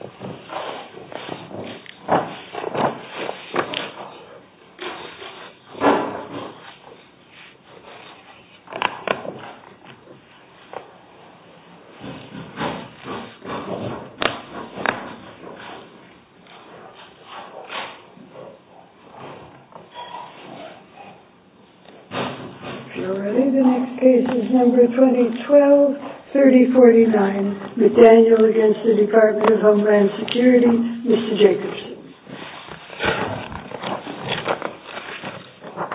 If you are ready, the next case is number 2012-3049 McDaniel v. DHS You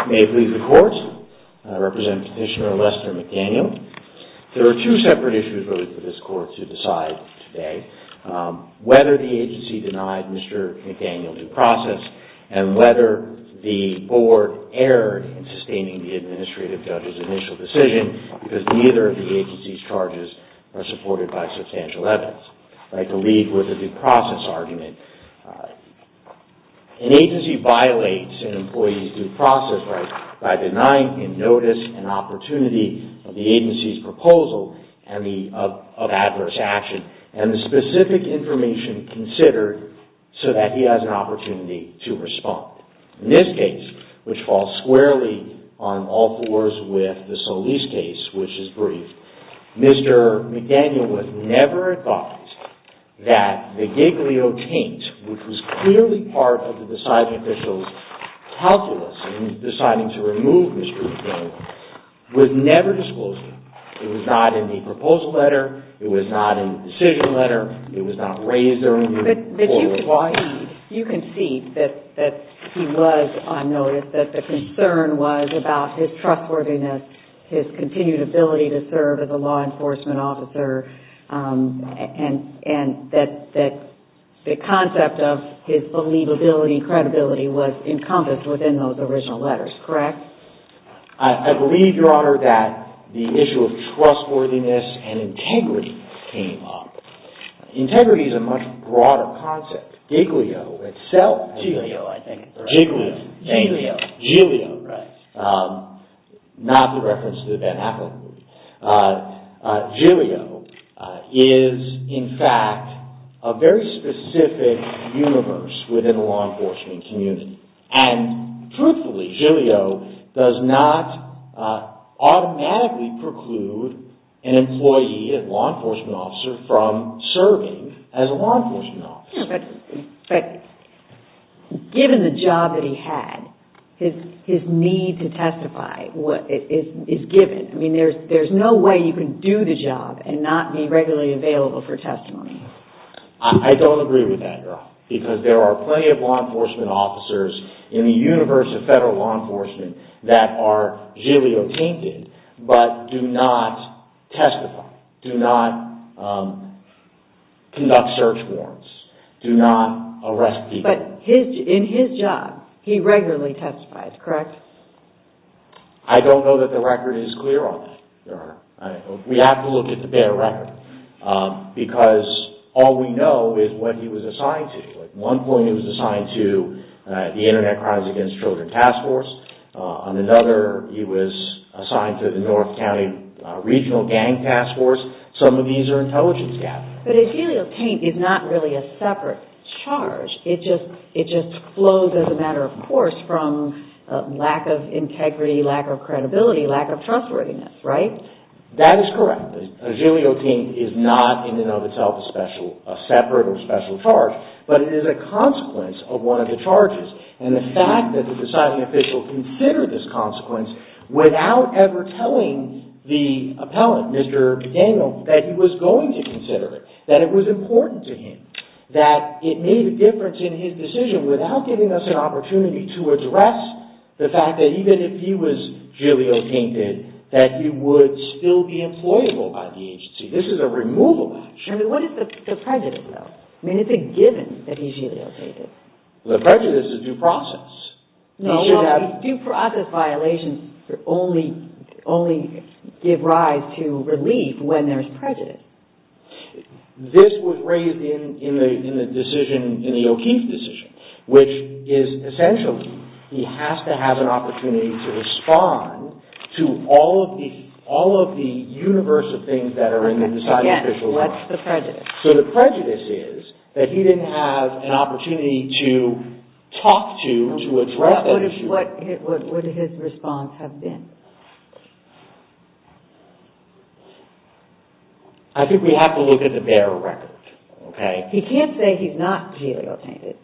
may leave the court. I represent Petitioner Lester McDaniel. There are two separate issues really for this court to decide today. Whether the agency denied Mr. McDaniel due process and whether the board erred in sustaining the administrative judge's initial decision because neither of the agency's charges are supported by substantial evidence. I'd like to lead with a due process argument. An agency violates an employee's due process rights by denying him notice and opportunity of the agency's proposal of adverse action and the specific information considered so that he has an opportunity to respond. In this case, which falls squarely on all fours with the Solis case, which is brief, Mr. McDaniel was never advised that the Giglio taint, which was clearly part of the deciding official's calculus in deciding to remove Mr. McDaniel, was never disclosed to him. It was not in the proposal letter. It was not in the decision letter. It was not raised or removed. But you can see that he was on notice, that the concern was about his trustworthiness, his continued ability to serve as a law enforcement officer, and that the concept of his believability and credibility was encompassed within those original letters, correct? I believe, Your Honor, that the issue of trustworthiness and integrity came up. Integrity is a much broader concept. Giglio, I think. Giglio. Giglio. Giglio. Giglio. Right. Not the reference to the Van Ackland movie. Giglio is, in fact, a very specific universe within the law enforcement community. And, truthfully, Giglio does not automatically preclude an employee, a law enforcement officer, from serving as a law enforcement officer. But, given the job that he had, his need to testify is given. I mean, there's no way you can do the job and not be regularly available for testimony. I don't agree with that, Your Honor, because there are plenty of law enforcement officers in the universe of federal law enforcement that are Giglio-tainted, but do not testify, do not conduct search warrants, do not arrest people. But, in his job, he regularly testifies, correct? I don't know that the record is clear on that, Your Honor. We have to look at the bare record, because all we know is what he was assigned to. At one point, he was assigned to the Internet Crimes Against Children Task Force. On another, he was assigned to the North County Regional Gang Task Force. Some of these are intelligence gaps. But a Giglio-taint is not really a separate charge. It just flows as a matter of course from lack of integrity, lack of credibility, lack of trustworthiness, right? That is correct. A Giglio-taint is not, in and of itself, a separate or special charge, but it is a consequence of one of the charges. And the fact that the deciding official considered this consequence without ever telling the appellant, Mr. Daniel, that he was going to consider it, that it was important to him, that it made a difference in his decision without giving us an opportunity to address the fact that even if he was Giglio-tainted, that he would still be employable by the agency. This is a removal action. What is the prejudice, though? I mean, is it given that he's Giglio-tainted? The prejudice is due process. No, no. Due process violations only give rise to relief when there's prejudice. This was raised in the decision, in the O'Keefe decision, which is essentially he has to have an opportunity to respond to all of the universe of things that are in the deciding official's mind. Again, what's the prejudice? So the prejudice is that he didn't have an opportunity to talk to, to address the issue. What would his response have been? I think we have to look at the bare record, okay? He can't say he's not Giglio-tainted.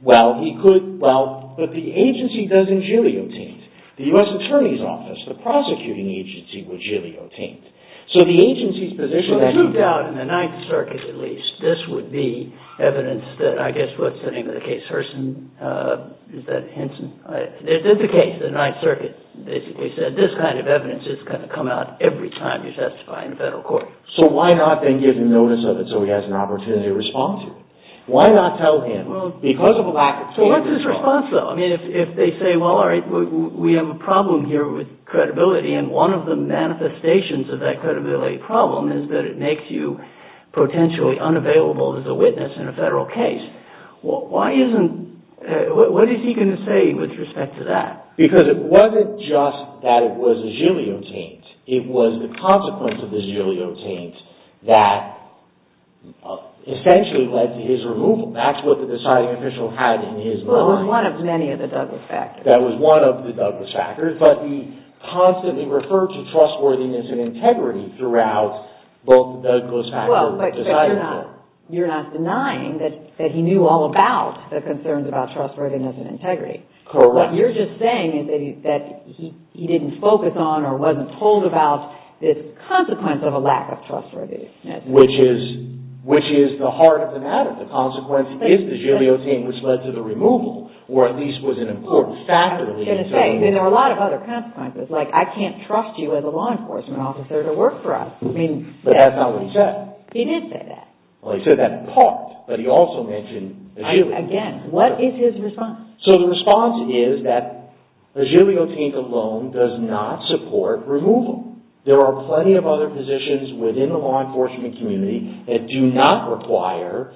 Well, he could, but the agency doesn't Giglio-taint. The U.S. Attorney's Office, the prosecuting agency, would Giglio-taint. So the agency's position... I do doubt in the Ninth Circuit, at least, this would be evidence that, I guess, what's the name of the case, Herson? Is that Henson? It is the case. The Ninth Circuit basically said this kind of evidence is going to come out every time you testify in a federal court. So why not then give him notice of it so he has an opportunity to respond to it? Why not tell him, because of a lack of... So what's his response, though? I mean, if they say, well, all right, we have a problem here with credibility, and one of the manifestations of that credibility problem is that it may make you potentially unavailable as a witness in a federal case, why isn't... What is he going to say with respect to that? Because it wasn't just that it was a Giglio-taint. It was the consequence of the Giglio-taint that essentially led to his removal. That's what the deciding official had in his mind. Well, it was one of many of the Douglas factors. That was one of the Douglas factors, but he constantly referred to trustworthiness and that was one of the Douglas factors that he decided for. You're not denying that he knew all about the concerns about trustworthiness and integrity. Correct. What you're just saying is that he didn't focus on or wasn't told about this consequence of a lack of trustworthiness. Which is the heart of the matter. The consequence is the Giglio-taint, which led to the removal, or at least was an important factor. I was going to say, there were a lot of other consequences. Like, I can't trust you as a law enforcement officer to work for us. But that's not what he said. He did say that. Well, he said that in part, but he also mentioned the Giglio-taint. Again, what is his response? So the response is that the Giglio-taint alone does not support removal. There are plenty of other positions within the law enforcement community that do not require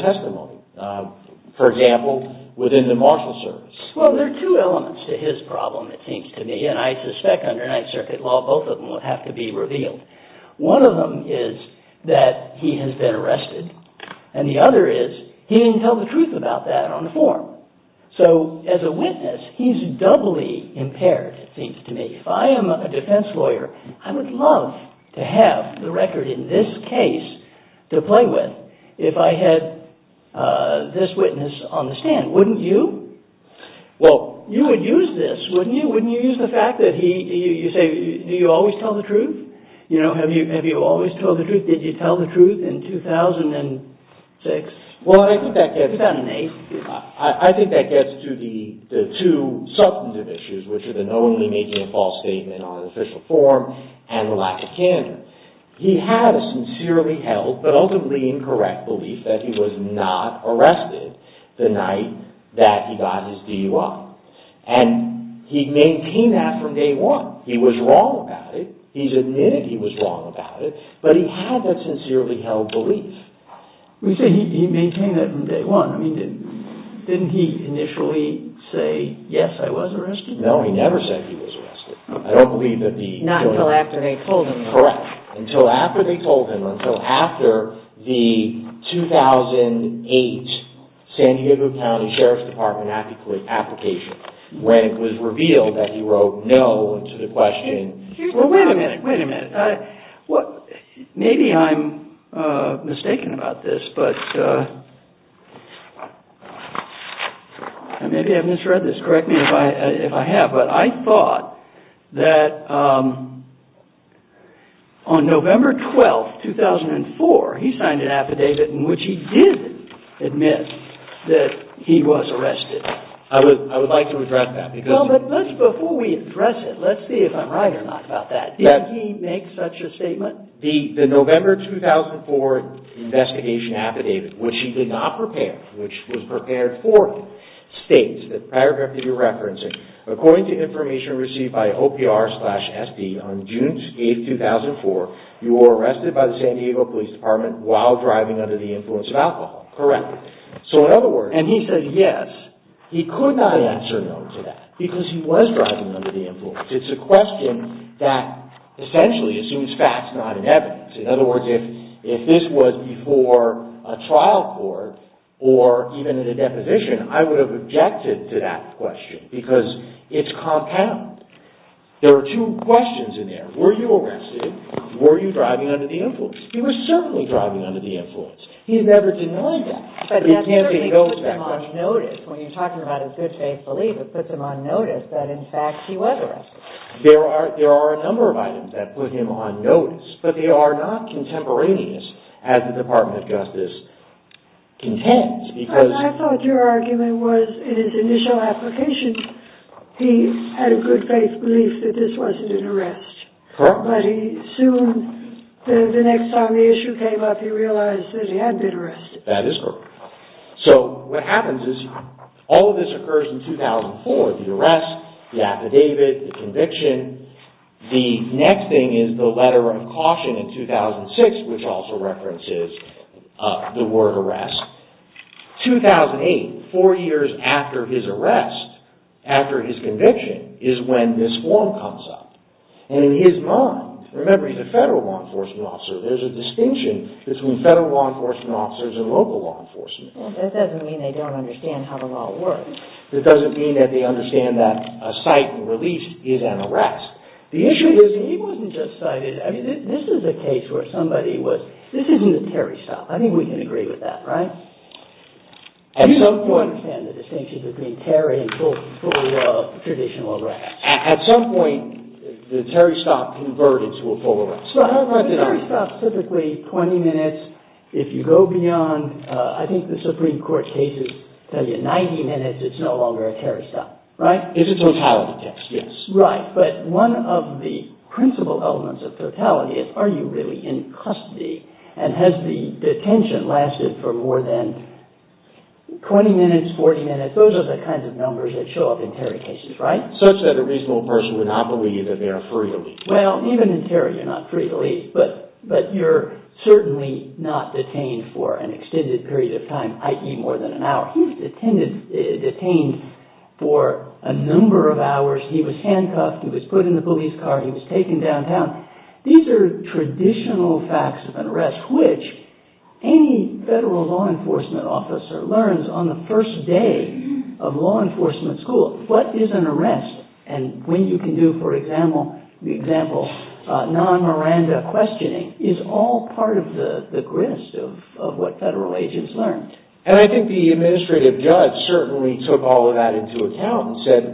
testimony. For example, within the marshal service. Well, there are two elements to his problem, it seems to me, and I suspect under Ninth Circuit law, both of them will have to be revealed. One of them is that he has been arrested. And the other is, he didn't tell the truth about that on the forum. So, as a witness, he's doubly impaired, it seems to me. If I am a defense lawyer, I would love to have the record in this case to play with if I had this witness on the stand. Wouldn't you? You would use this, wouldn't you? Wouldn't you use the fact that you say, do you always tell the truth? Have you always told the truth? Did you tell the truth in 2006? Well, I think that gets to the two substantive issues, which are the knowingly making a false statement on an official forum, and the lack of candor. He had a sincerely held, but ultimately incorrect, belief that he was not arrested the night that he got his DUI. And he maintained that from day one. He was wrong about it. He's admitted he was wrong about it. But he had that sincerely held belief. You say he maintained that from day one. Didn't he initially say, yes, I was arrested? No, he never said he was arrested. Not until after they told him. Correct. Until after they told him. Until after the 2008 San Diego County Sheriff's Department application when it was revealed that he wrote no to the question. Well, wait a minute. Wait a minute. Maybe I'm mistaken about this. Maybe I misread this. Correct me if I have. But I thought that on November 12, 2004, he signed an affidavit in which he did admit that he was arrested. I would like to address that. Well, but before we address it, let's see if I'm right or not about that. Did he make such a statement? The November 2004 investigation affidavit, which he did not prepare, which was prepared for him, the paragraph that you're referencing, according to information received by OPR slash SD on June 8, 2004, you were arrested by the San Diego Police Department while driving under the influence of alcohol. Correct. So in other words, and he said yes, he could not answer no to that because he was driving under the influence. It's a question that essentially assumes facts, not an evidence. In other words, if this was before a trial court or even in a deposition, I would have objected to that question because it's compound. There are two questions in there. Were you arrested? Were you driving under the influence? He was certainly driving under the influence. He never denied that. But that certainly puts him on notice. When you're talking about his good faith belief, it puts him on notice that, in fact, he was arrested. There are a number of items that put him on notice, but they are not contemporaneous as the Department of Justice contends. I thought your argument was, in his initial application, he had a good faith belief that this wasn't an arrest. Correct. But soon, the next time the issue came up, he realized that he had been arrested. That is correct. So what happens is, all of this occurs in 2004. The arrest, the affidavit, the conviction. The next thing is the letter of caution in 2006, which also references the word arrest. 2008, four years after his arrest, after his conviction, is when this form comes up. And in his mind, remember he's a federal law enforcement officer, there's a distinction between federal law enforcement officers and local law enforcement. That doesn't mean they don't understand how the law works. That doesn't mean that they understand that a cite and release is an arrest. The issue is, he wasn't just cited. I mean, this is a case where somebody was, this isn't a Terry stop. I think we can agree with that, right? Do you understand the distinction between Terry and full traditional arrest? At some point, the Terry stop converted to a full arrest. Right. The Terry stop is typically 20 minutes. If you go beyond, I think the Supreme Court cases tell you 90 minutes, it's no longer a Terry stop, right? It's a totality test, yes. Right. But one of the principal elements of totality is, are you really in custody? And has the detention lasted for more than 20 minutes, 40 minutes? Those are the kinds of numbers that show up in Terry cases, right? Such that a reasonable person would not believe that they are free to leave. Well, even in Terry you're not free to leave, but you're certainly not detained for an extended period of time, i.e. more than an hour. He was detained for a number of hours. He was handcuffed, he was put in the police car, he was taken downtown. These are traditional facts of an arrest, which any federal law enforcement officer learns on the first day of law enforcement school. What is an arrest? And when you can do, for example, non-Miranda questioning, is all part of the grist of what federal agents learned. And I think the administrative judge certainly took all of that into account and said,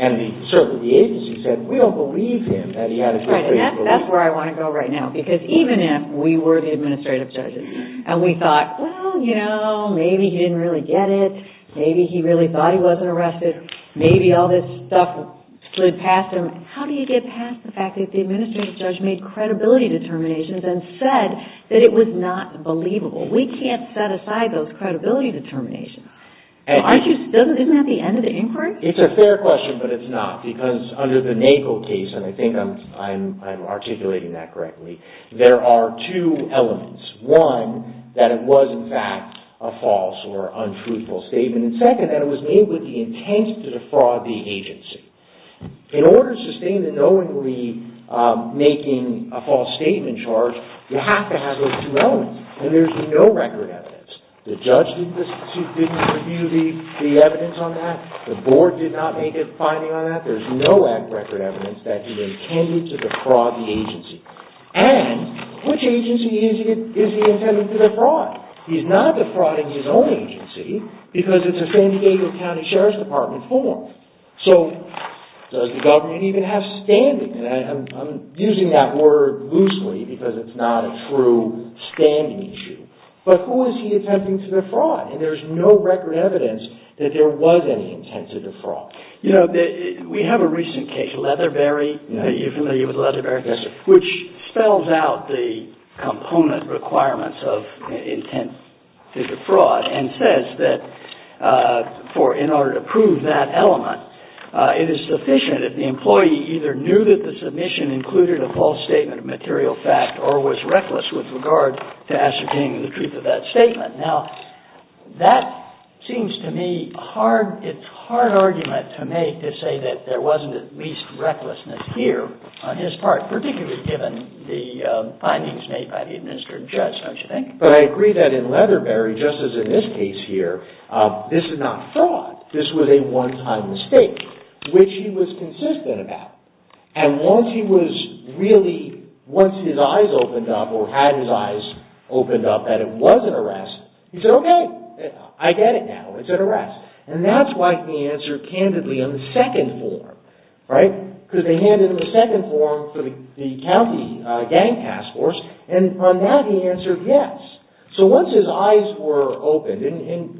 and certainly the agency said, we don't believe him that he had to be free to leave. Right, and that's where I want to go right now. Because even if we were the administrative judges and we thought, well, you know, maybe he didn't really get it, maybe he really thought he wasn't arrested, maybe all this stuff slid past him, how do you get past the fact that the administrative judge made credibility determinations and said that it was not believable? We can't set aside those credibility determinations. Isn't that the end of the inquiry? It's a fair question, but it's not. Because under the Nagel case, and I think I'm articulating that correctly, there are two elements. One, that it was in fact a false or untruthful statement. And second, that it was made with the intent to defraud the agency. In order to sustain the knowingly making a false statement charge, you have to have those two elements. And there's no record evidence. The judge didn't review the evidence on that. The board did not make a finding on that. There's no record evidence that he intended to defraud the agency. And, which agency is he intending to defraud? He's not defrauding his own agency, because it's a San Diego County Sheriff's Department form. So, does the government even have standing? And I'm using that word loosely because it's not a true standing issue. But who is he attempting to defraud? And there's no record evidence that there was any intent to defraud. You know, we have a recent case, Leatherberry. Are you familiar with Leatherberry? Yes, sir. Which spells out the component requirements of intent to defraud, and says that in order to prove that element, it is sufficient if the employee either knew that the submission included a false statement of material fact, or was reckless with regard to ascertaining the truth of that statement. Now, that seems to me a hard argument to make to say that there wasn't at least recklessness here on his part, particularly given the findings made by the administered judge, don't you think? But I agree that in Leatherberry, just as in this case here, this is not fraud. This was a one-time mistake, which he was consistent about. And once he was really, once his eyes opened up, or had his eyes opened up that it was an arrest, he said, okay, I get it now, it's an arrest. And that's why he answered candidly on the second form, right? Because they handed him a second form for the county gang task force, and on that he answered yes. So once his eyes were opened, and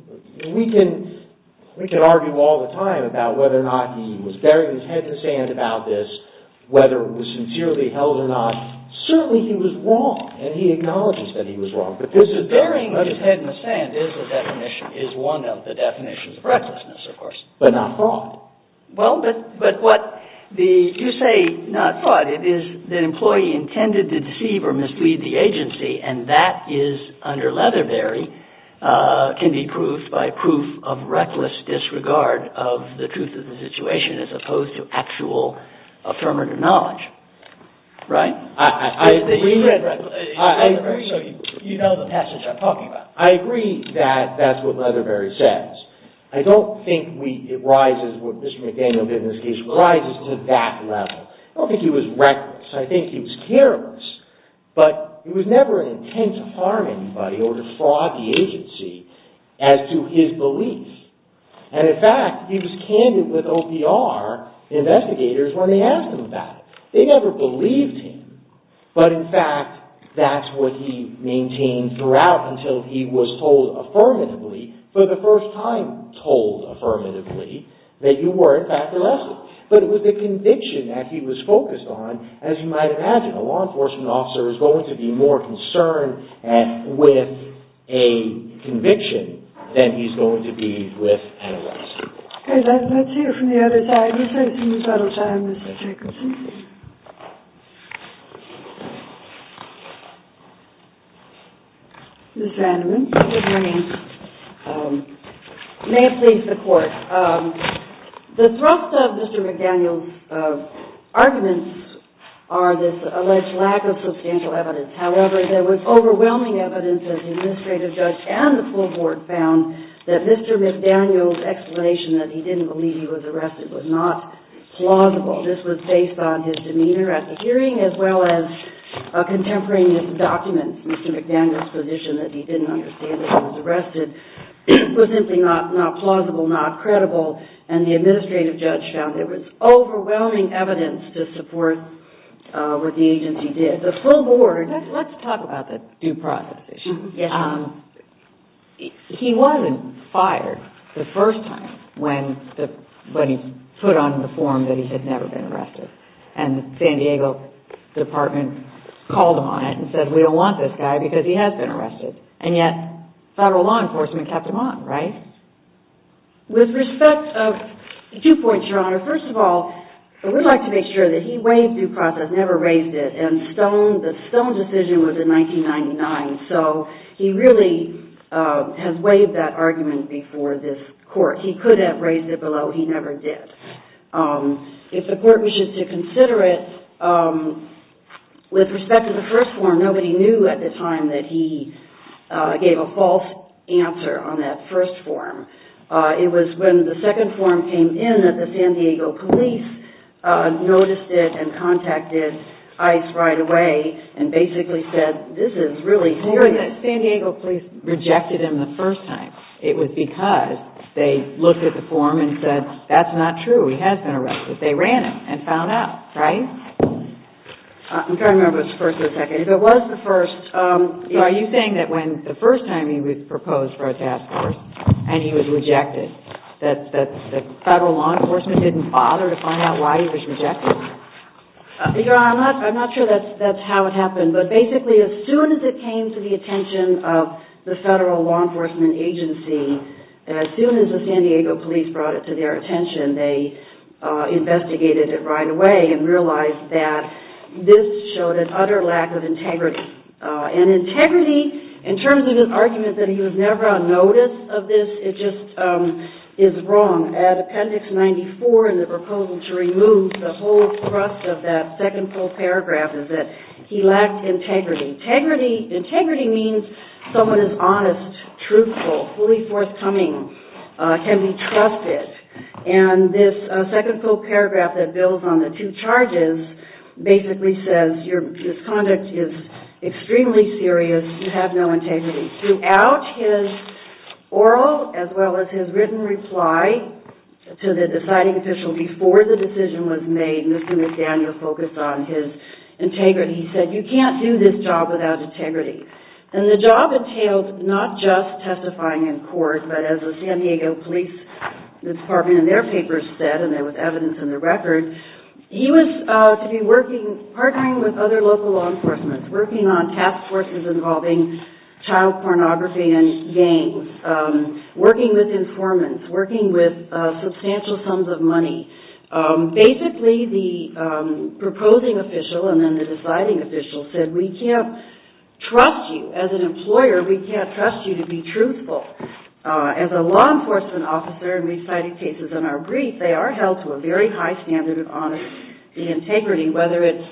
we can argue all the time about whether or not he was bearing his head in the sand about this, whether it was sincerely held or not, certainly he was wrong, and he acknowledges that he was wrong. Because the bearing of his head in the sand is a definition, is one of the definitions of recklessness, of course, but not fraud. Well, but what the, you say not fraud, it is the employee intended to deceive or mislead the agency, and that is, under Leatherberry, can be proved by proof of reckless disregard of the truth of the situation, as opposed to actual affirmative knowledge, right? I agree, you know the passage I'm talking about. I agree that that's what Leatherberry says. I don't think it rises, what Mr. McDaniel did in this case, rises to that level. I don't think he was reckless, I think he was careless, but it was never an intent to harm anybody or to fraud the agency, as to his belief. And in fact, he was candid with OPR investigators when they asked him about it. They never believed him, but in fact, that's what he maintained throughout, until he was told affirmatively, for the first time told affirmatively, that you were, in fact, reckless. But it was the conviction that he was focused on, as you might imagine, a law enforcement officer is going to be more concerned with a conviction, than he's going to be with an arrest. Okay, let's hear from the other side. Ms. Vanderman, what is your name? May it please the court. The thrust of Mr. McDaniel's arguments are this alleged lack of substantial evidence. However, there was overwhelming evidence that the administrative judge and the full board found that Mr. McDaniel's explanation that he didn't believe he was arrested was not plausible. This was based on his demeanor at the hearing, as well as a contemporary misdocument. Mr. McDaniel's position that he didn't understand that he was arrested was simply not plausible, not credible, and the administrative judge found there was overwhelming evidence to support what the agency did. The full board... Let's talk about the due process issue. He wasn't fired the first time when he put on the form that he had never been arrested. And the San Diego department called him on it and said, we don't want this guy because he has been arrested. And yet, federal law enforcement kept him on, right? With respect to the two points, Your Honor, first of all, we'd like to make sure that he weighed due process, never raised it, and the Stone decision was in 1999. So, he really has weighed that argument before this court. He could have raised it below, he never did. If the court wishes to consider it, with respect to the first form, nobody knew at the time that he gave a false answer on that first form. It was when the second form came in that the San Diego police noticed it and contacted ICE right away and basically said, this is really serious. The San Diego police rejected him the first time. It was because they looked at the form and said, that's not true, he has been arrested. They ran him and found out, right? I'm trying to remember if it was the first or the second. If it was the first... So, are you saying that when the first time he was proposed for a task force and he was rejected, that federal law enforcement didn't bother to find out why he was rejected? I'm not sure that's how it happened. But basically, as soon as it came to the attention of the federal law enforcement agency, as soon as the San Diego police brought it to their attention, they investigated it right away and realized that this showed an utter lack of integrity. And integrity, in terms of his argument that he was never on notice of this, it just is wrong. At appendix 94 in the proposal to remove the whole thrust of that second full paragraph, is that he lacked integrity. Integrity means someone is honest, truthful, fully forthcoming, can be trusted. And this second full paragraph that builds on the two charges basically says, this conduct is extremely serious, you have no integrity. Throughout his oral, as well as his written reply to the deciding official before the decision was made, Mr. and Ms. Daniel focused on his integrity. He said, you can't do this job without integrity. And the job entailed not just testifying in court, but as the San Diego Police Department in their papers said, and there was evidence in the record, he was to be working, partnering with other local law enforcement, working on task forces involving child pornography and gangs, working with informants, working with substantial sums of money. Basically, the proposing official and then the deciding official said, we can't trust you. As an employer, we can't trust you to be truthful. As a law enforcement officer, and reciting cases in our brief, they are held to a very high standard of honesty and integrity, whether it's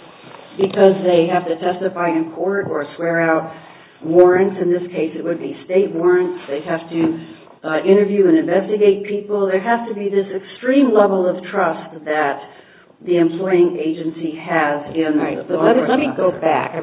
because they have to testify in court or swear out warrants, in this case it would be state warrants. They have to interview and investigate people. There has to be this extreme level of trust that the employing agency has in law enforcement. Let me go back.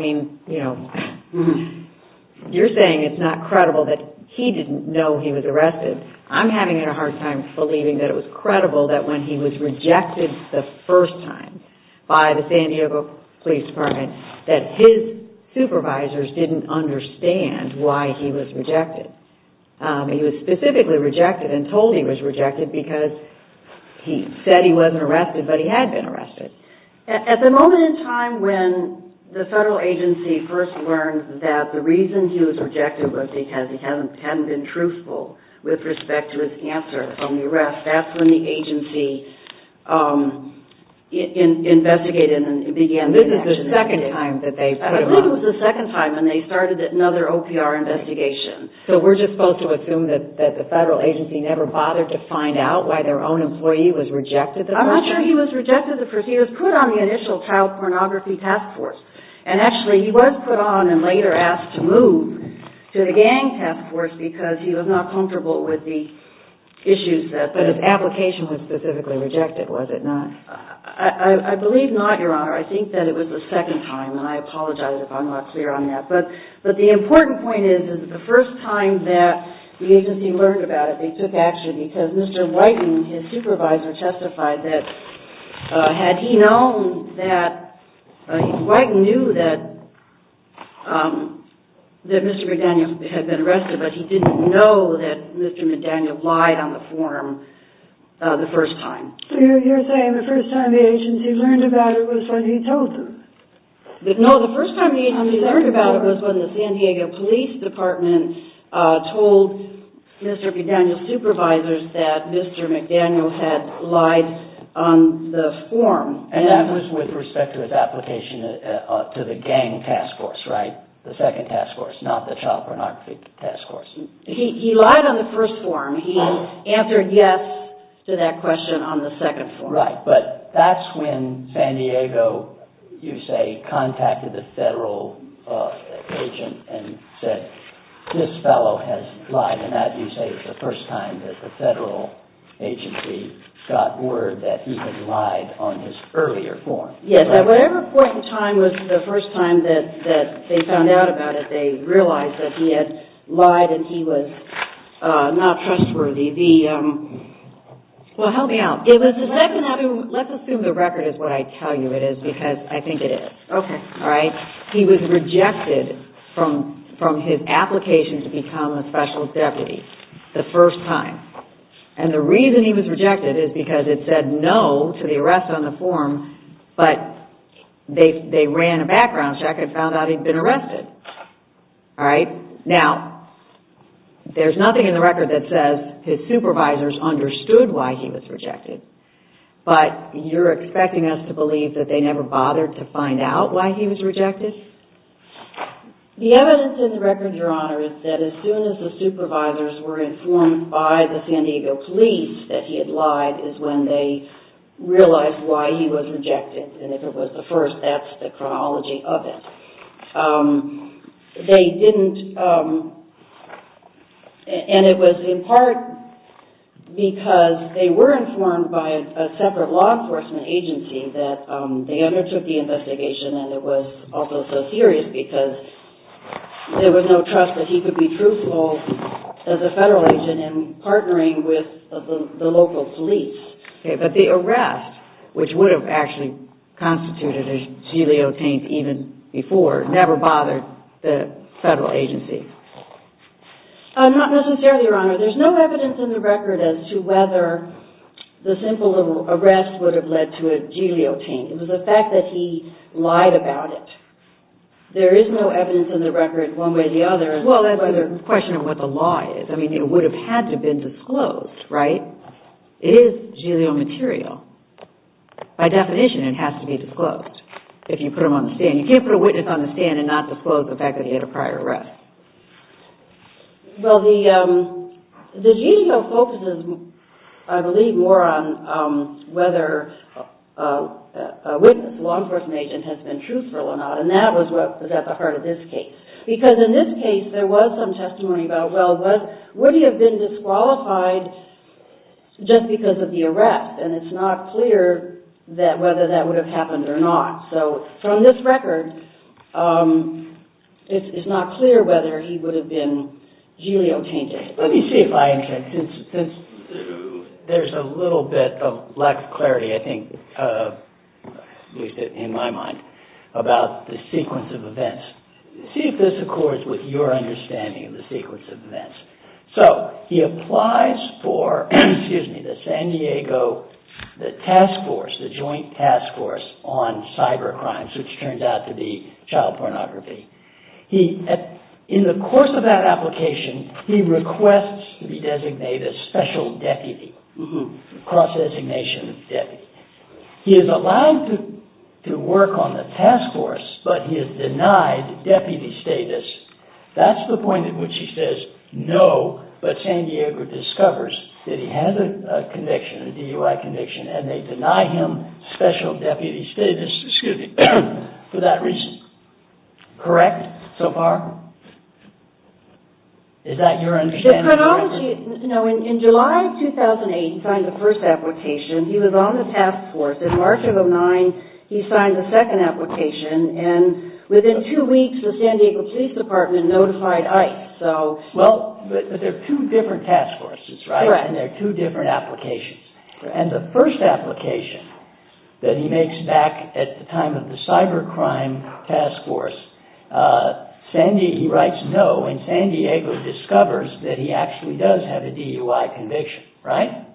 You're saying it's not credible that he didn't know he was arrested. I'm having a hard time believing that it was credible that when he was rejected the first time by the San Diego Police Department, that his supervisors didn't understand why he was rejected. He was specifically rejected and told he was rejected because he said he wasn't arrested, but he had been arrested. At the moment in time when the federal agency first learned that the reason he was rejected was because he hadn't been truthful with respect to his answer from the arrest, that's when the agency investigated and began I believe it was the second time when they started another OPR investigation. So we're just supposed to assume that the federal agency never bothered to find out why their own employee was rejected the first time? I'm not sure he was rejected the first time. He was put on the initial child pornography task force. Actually, he was put on and later asked to move to the gang task force because he was not comfortable with the issues that... But his application was specifically rejected, was it not? I believe not, Your Honor. I think that it was the second time and I apologize if I'm not clear on that. But the important point is that the first time that the agency learned about it, they took action because Mr. Whiten, his supervisor, testified that had he known that... Whiten knew that Mr. McDaniel had been arrested but he didn't know that Mr. McDaniel lied on the form the first time. You're saying the first time the agency learned about it was when he told them? No, the first time the agency learned about it was when the San Diego Police Department told Mr. McDaniel's supervisors that Mr. McDaniel had lied on the form. And that was with respect to his application to the gang task force, right? The second task force, not the child pornography task force. He lied on the first form. He answered yes to that question on the second form. Right, but that's when San Diego, you say, contacted the federal agent and said, this fellow has lied and that, you say, is the first time that the federal agency got word that he had lied on his earlier form. Yes, at whatever point in time was the first time that they found out about it, they realized that he had lied and he was not trustworthy. Well, help me out. Let's assume the record is what I tell you it is because I think it is. He was rejected from his application to become a special deputy the first time. And the reason he was rejected is because it said no to the arrest on the form but they ran a background check and found out he'd been arrested. Now, there's nothing in the record that says his supervisors understood why he was rejected but you're expecting us to believe that they never bothered to find out why he was rejected? The evidence in the record, Your Honor, is that as soon as the supervisors were informed by the San Diego police that he had lied is when they realized why he was rejected and if it was the first, that's the chronology of it. And it was in part because they were informed by a separate law enforcement agency that they undertook the investigation and it was also so serious because there was no trust that he could be truthful as a federal agent in partnering with the local police. But the arrest, which would have actually constituted a gelio taint even before never bothered the federal agency? Not necessarily, Your Honor. There's no evidence in the record as to whether the simple arrest would have led to a gelio taint. It was the fact that he lied about it. There is no evidence in the record one way or the other. Well, that's the question of what the law is. I mean, it would have had to have been disclosed, right? It is gelio material. By definition, it has to be disclosed if you put him on the stand. You can't put a witness on the stand and not disclose the fact that he had a prior arrest. Well, the gelio focuses, I believe, more on whether a witness, a law enforcement agent, has been truthful or not. And that was at the heart of this case. Because in this case, there was some testimony about, well, would he have been disqualified just because of the arrest? And it's not clear whether that would have happened or not. So, from this record, it's not clear whether he would have been gelio tainted. Let me see if I understand. There's a little bit of lack of clarity, I think, in my mind, about the sequence of events. See if this accords with your understanding of the sequence of events. So, he applies for the San Diego task force, the joint task force on cyber crimes, which turns out to be child pornography. In the course of that application, he requests to be designated special deputy, cross-designation deputy. He is allowed to work on the task force, but he is denied deputy status. That's the point at which he says no, but San Diego discovers that he has a DUI conviction and they deny him special deputy status for that reason. Correct, so far? Is that your understanding? In July 2008, he signed the first application. He was on the task force. In March of 2009, he signed the second application. And within two weeks, the San Diego Police Department notified ICE. Well, but they're two different task forces, right? And they're two different applications. And the first application that he makes back at the time of the cyber crime task force, he writes no and San Diego discovers that he actually does have a DUI conviction. Right?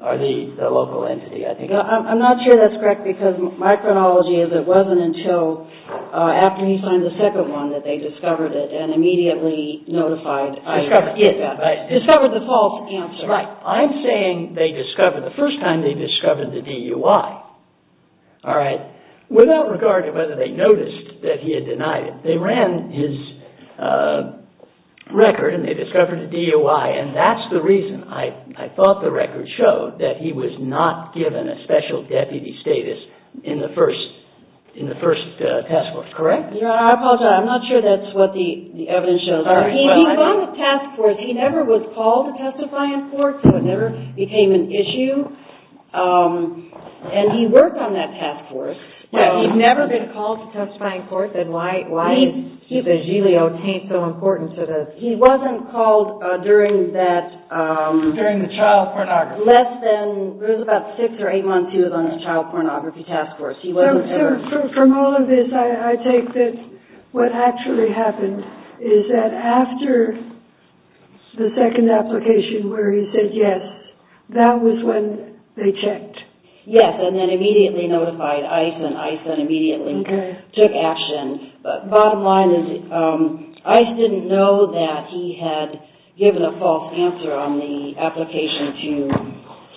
Or the local entity, I think. I'm not sure that's correct because my chronology is it wasn't until after he signed the second one that they discovered it and immediately notified ICE. Discovered the false answer. Right, I'm saying the first time they discovered the DUI. Without regard to whether they noticed that he had denied it, they ran his record and they discovered a DUI and that's the reason I thought the record showed that he was not given a special deputy status in the first task force, correct? I apologize, I'm not sure that's what the evidence shows. He was on the task force. He never was called to testify in court so it never became an issue. And he worked on that task force. Yeah, he'd never been called to testify in court. He wasn't called during that... During the child pornography. Less than, it was about six or eight months he was on the child pornography task force. From all of this, I take that what actually happened is that after the second application where he said yes, that was when they checked. Yes, and then immediately notified ICE and ICE then immediately took action. But bottom line is ICE didn't know that he had given a false answer on the application to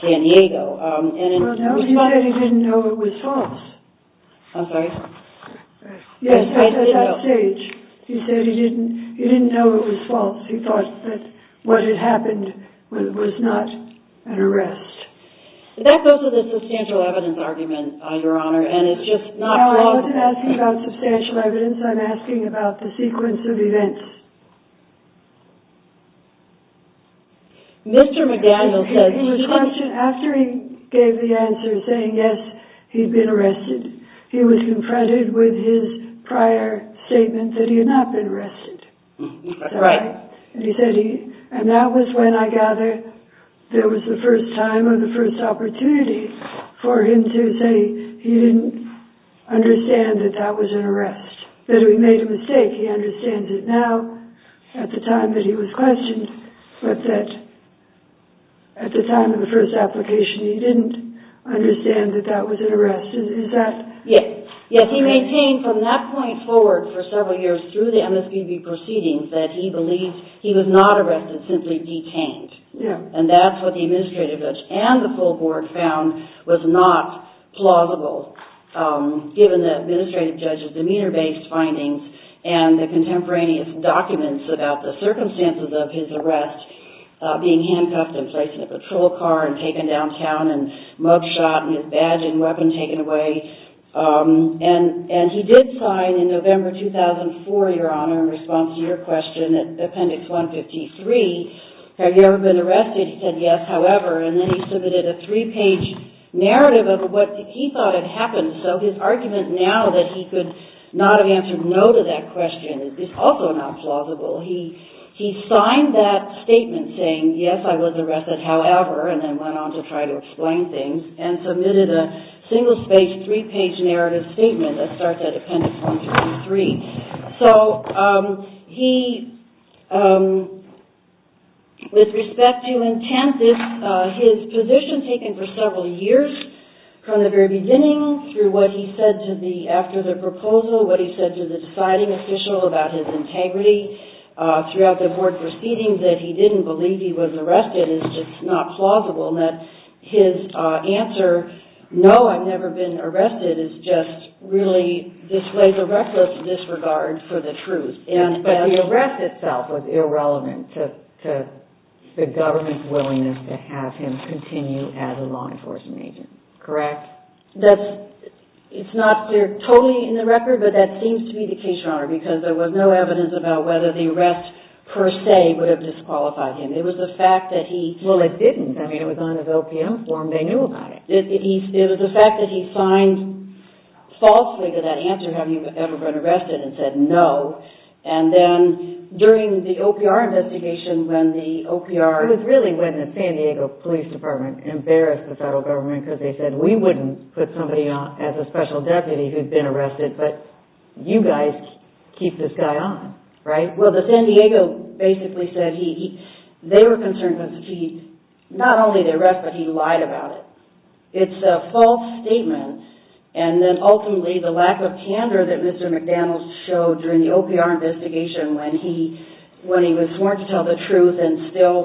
San Diego. Well, no, he said he didn't know it was false. I'm sorry? Yes, at that stage. He said he didn't know it was false. He thought that what had happened was not an arrest. That goes with the substantial evidence argument, Your Honor, and it's just not plausible. No, I'm not asking about substantial evidence, I'm asking about the sequence of events. Mr. McDaniel said... After he gave the answer saying yes, he'd been arrested, he was confronted with his prior statement that he had not been arrested. That's right. And that was when I gather there was the first time or the first opportunity for him to say he didn't understand that that was an arrest, that he made a mistake. He said that he understands it now, at the time that he was questioned, but that at the time of the first application he didn't understand that that was an arrest. Yes, he maintained from that point forward for several years through the MSPB proceedings that he believed he was not arrested, simply detained. And that's what the administrative judge and the full board found was not plausible given the administrative judge's demeanor-based findings and the contemporaneous documents about the circumstances of his arrest, being handcuffed and placed in a patrol car and taken downtown and mug shot and his badge and weapon taken away. And he did sign in November 2004, Your Honor, in response to your question at Appendix 153, have you ever been arrested? He said yes, however. And then he submitted a three-page narrative of what he thought had happened. So his argument now that he could not have answered no to that question is also not plausible. He signed that statement saying, yes, I was arrested, however, and then went on to try to explain things and submitted a single-page, three-page narrative statement that starts at Appendix 153. So he, with respect to intent, his position taken for several years from the very beginning through what he said after the proposal, what he said to the deciding official about his integrity throughout the board proceedings that he didn't believe he was arrested is just not plausible. And that his answer, no, I've never been arrested, is just really displays a reckless disregard for the truth. But the arrest itself was irrelevant to the government's willingness to have him continue as a law enforcement agent, correct? That's, it's not clear totally in the record, but that seems to be the case, Your Honor, because there was no evidence about whether the arrest per se would have disqualified him. It was the fact that he... Well, it didn't. I mean, it was on his OPM form. They knew about it. It was the fact that he signed falsely to that answer, have you ever been arrested, and said no. And then during the OPR investigation, when the OPR... It was really when the San Diego Police Department embarrassed the federal government because they said, we wouldn't put somebody on as a special deputy who'd been arrested, but you guys keep this guy on, right? Well, the San Diego basically said he, they were concerned because he, not only the arrest, but he lied about it. It's a false statement. And then ultimately, the lack of candor that Mr. McDaniels showed during the OPR investigation when he was sworn to tell the truth and still,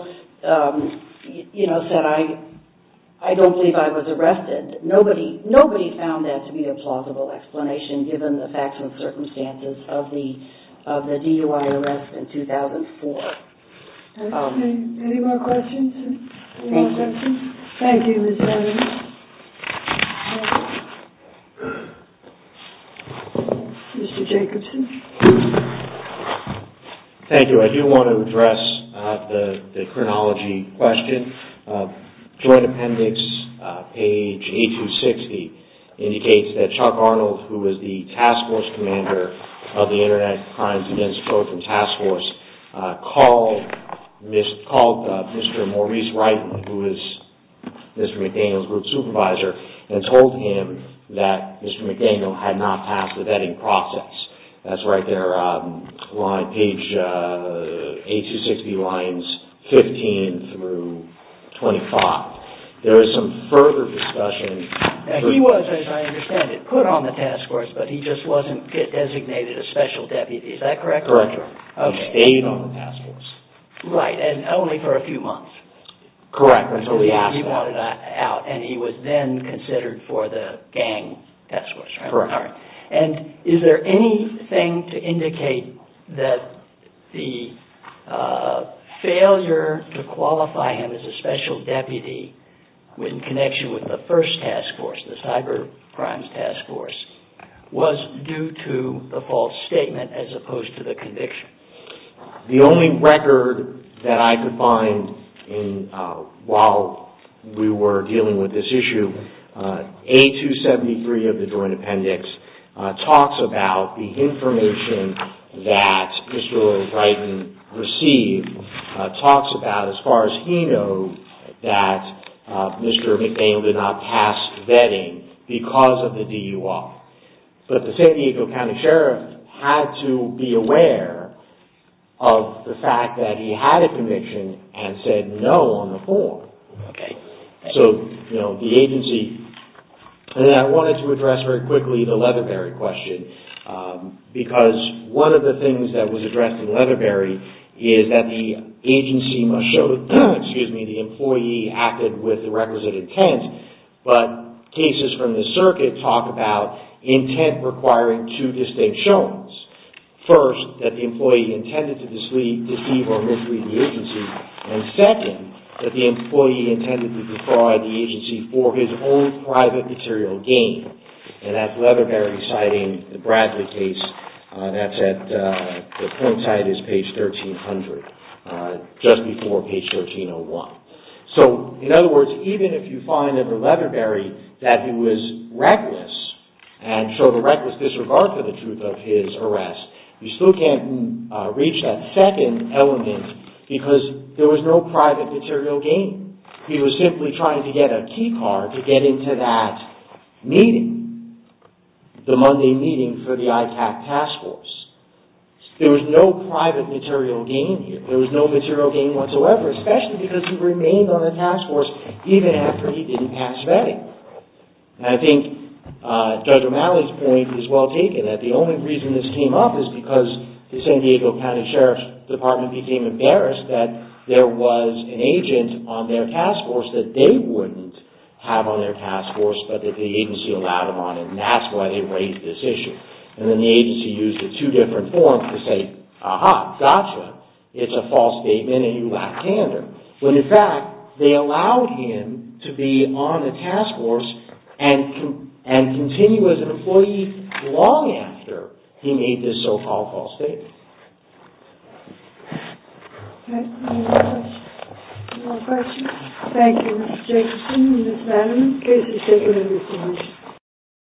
you know, said, I don't believe I was arrested. Nobody found that to be a plausible explanation given the facts and circumstances of the DUI arrest in 2004. Any more questions? Thank you. Mr. Jacobson. Thank you. I do want to address the chronology question. Joint appendix, page 8260, indicates that Chuck Arnold, who was the task force commander of the Internet Crimes Against Children task force, called Mr. Maurice Wright, who was Mr. McDaniels' group supervisor, and told him that Mr. McDaniels had not passed the vetting process. That's right there on page 8260 lines 15 through 25. There is some further discussion... He was, as I understand it, put on the task force, but he just wasn't designated a special deputy, is that correct? Correct. He stayed on the task force. Right, and only for a few months. Correct. And he was then considered for the gang task force. Correct. Is there anything to indicate that the failure to qualify him as a special deputy in connection with the first task force, the cyber crimes task force, was due to the false statement as opposed to the conviction? The only record that I could find while we were dealing with this issue, A273 of the Joint Appendix talks about the information that Mr. William Dryden received, talks about, as far as he knows, that Mr. McDaniels did not pass vetting because of the DUI. But the San Diego County Sheriff had to be aware of the fact that he had a conviction and said no on the form. And I wanted to address very quickly the Leatherberry question because one of the things that was addressed in Leatherberry is that the agency must show the employee acted with the requisite intent but cases from the circuit talk about intent requiring two distinct showings. First, that the employee intended to deceive or mislead the agency and second, that the employee intended to defraud the agency for his own private material gain. And that's Leatherberry citing the Bradley case that's at, the print site is page 1300 just before page 1301. So, in other words, even if you find in the Leatherberry that he was reckless and showed a reckless disregard for the truth of his arrest you still can't reach that second element because there was no private material gain. He was simply trying to get a key card to get into that meeting, the Monday meeting for the ITAC task force. There was no private material gain here. There was no material gain whatsoever especially because he remained on the task force even after he didn't pass vetting. And I think Judge O'Malley's point is well taken that the only reason this came up is because the San Diego County Sheriff's Department became embarrassed that there was an agent on their task force that they wouldn't have on their task force but that the agency allowed him on and that's why they raised this issue. And then the agency used the two different forms to say, ah-ha, gotcha, it's a false statement and you lack tandem. When in fact, they allowed him to be on the task force and continue as an employee long after he made this so-called false statement. Any more questions? Thank you, Mr. Jacobson and Ms. Vanderman. Thank you.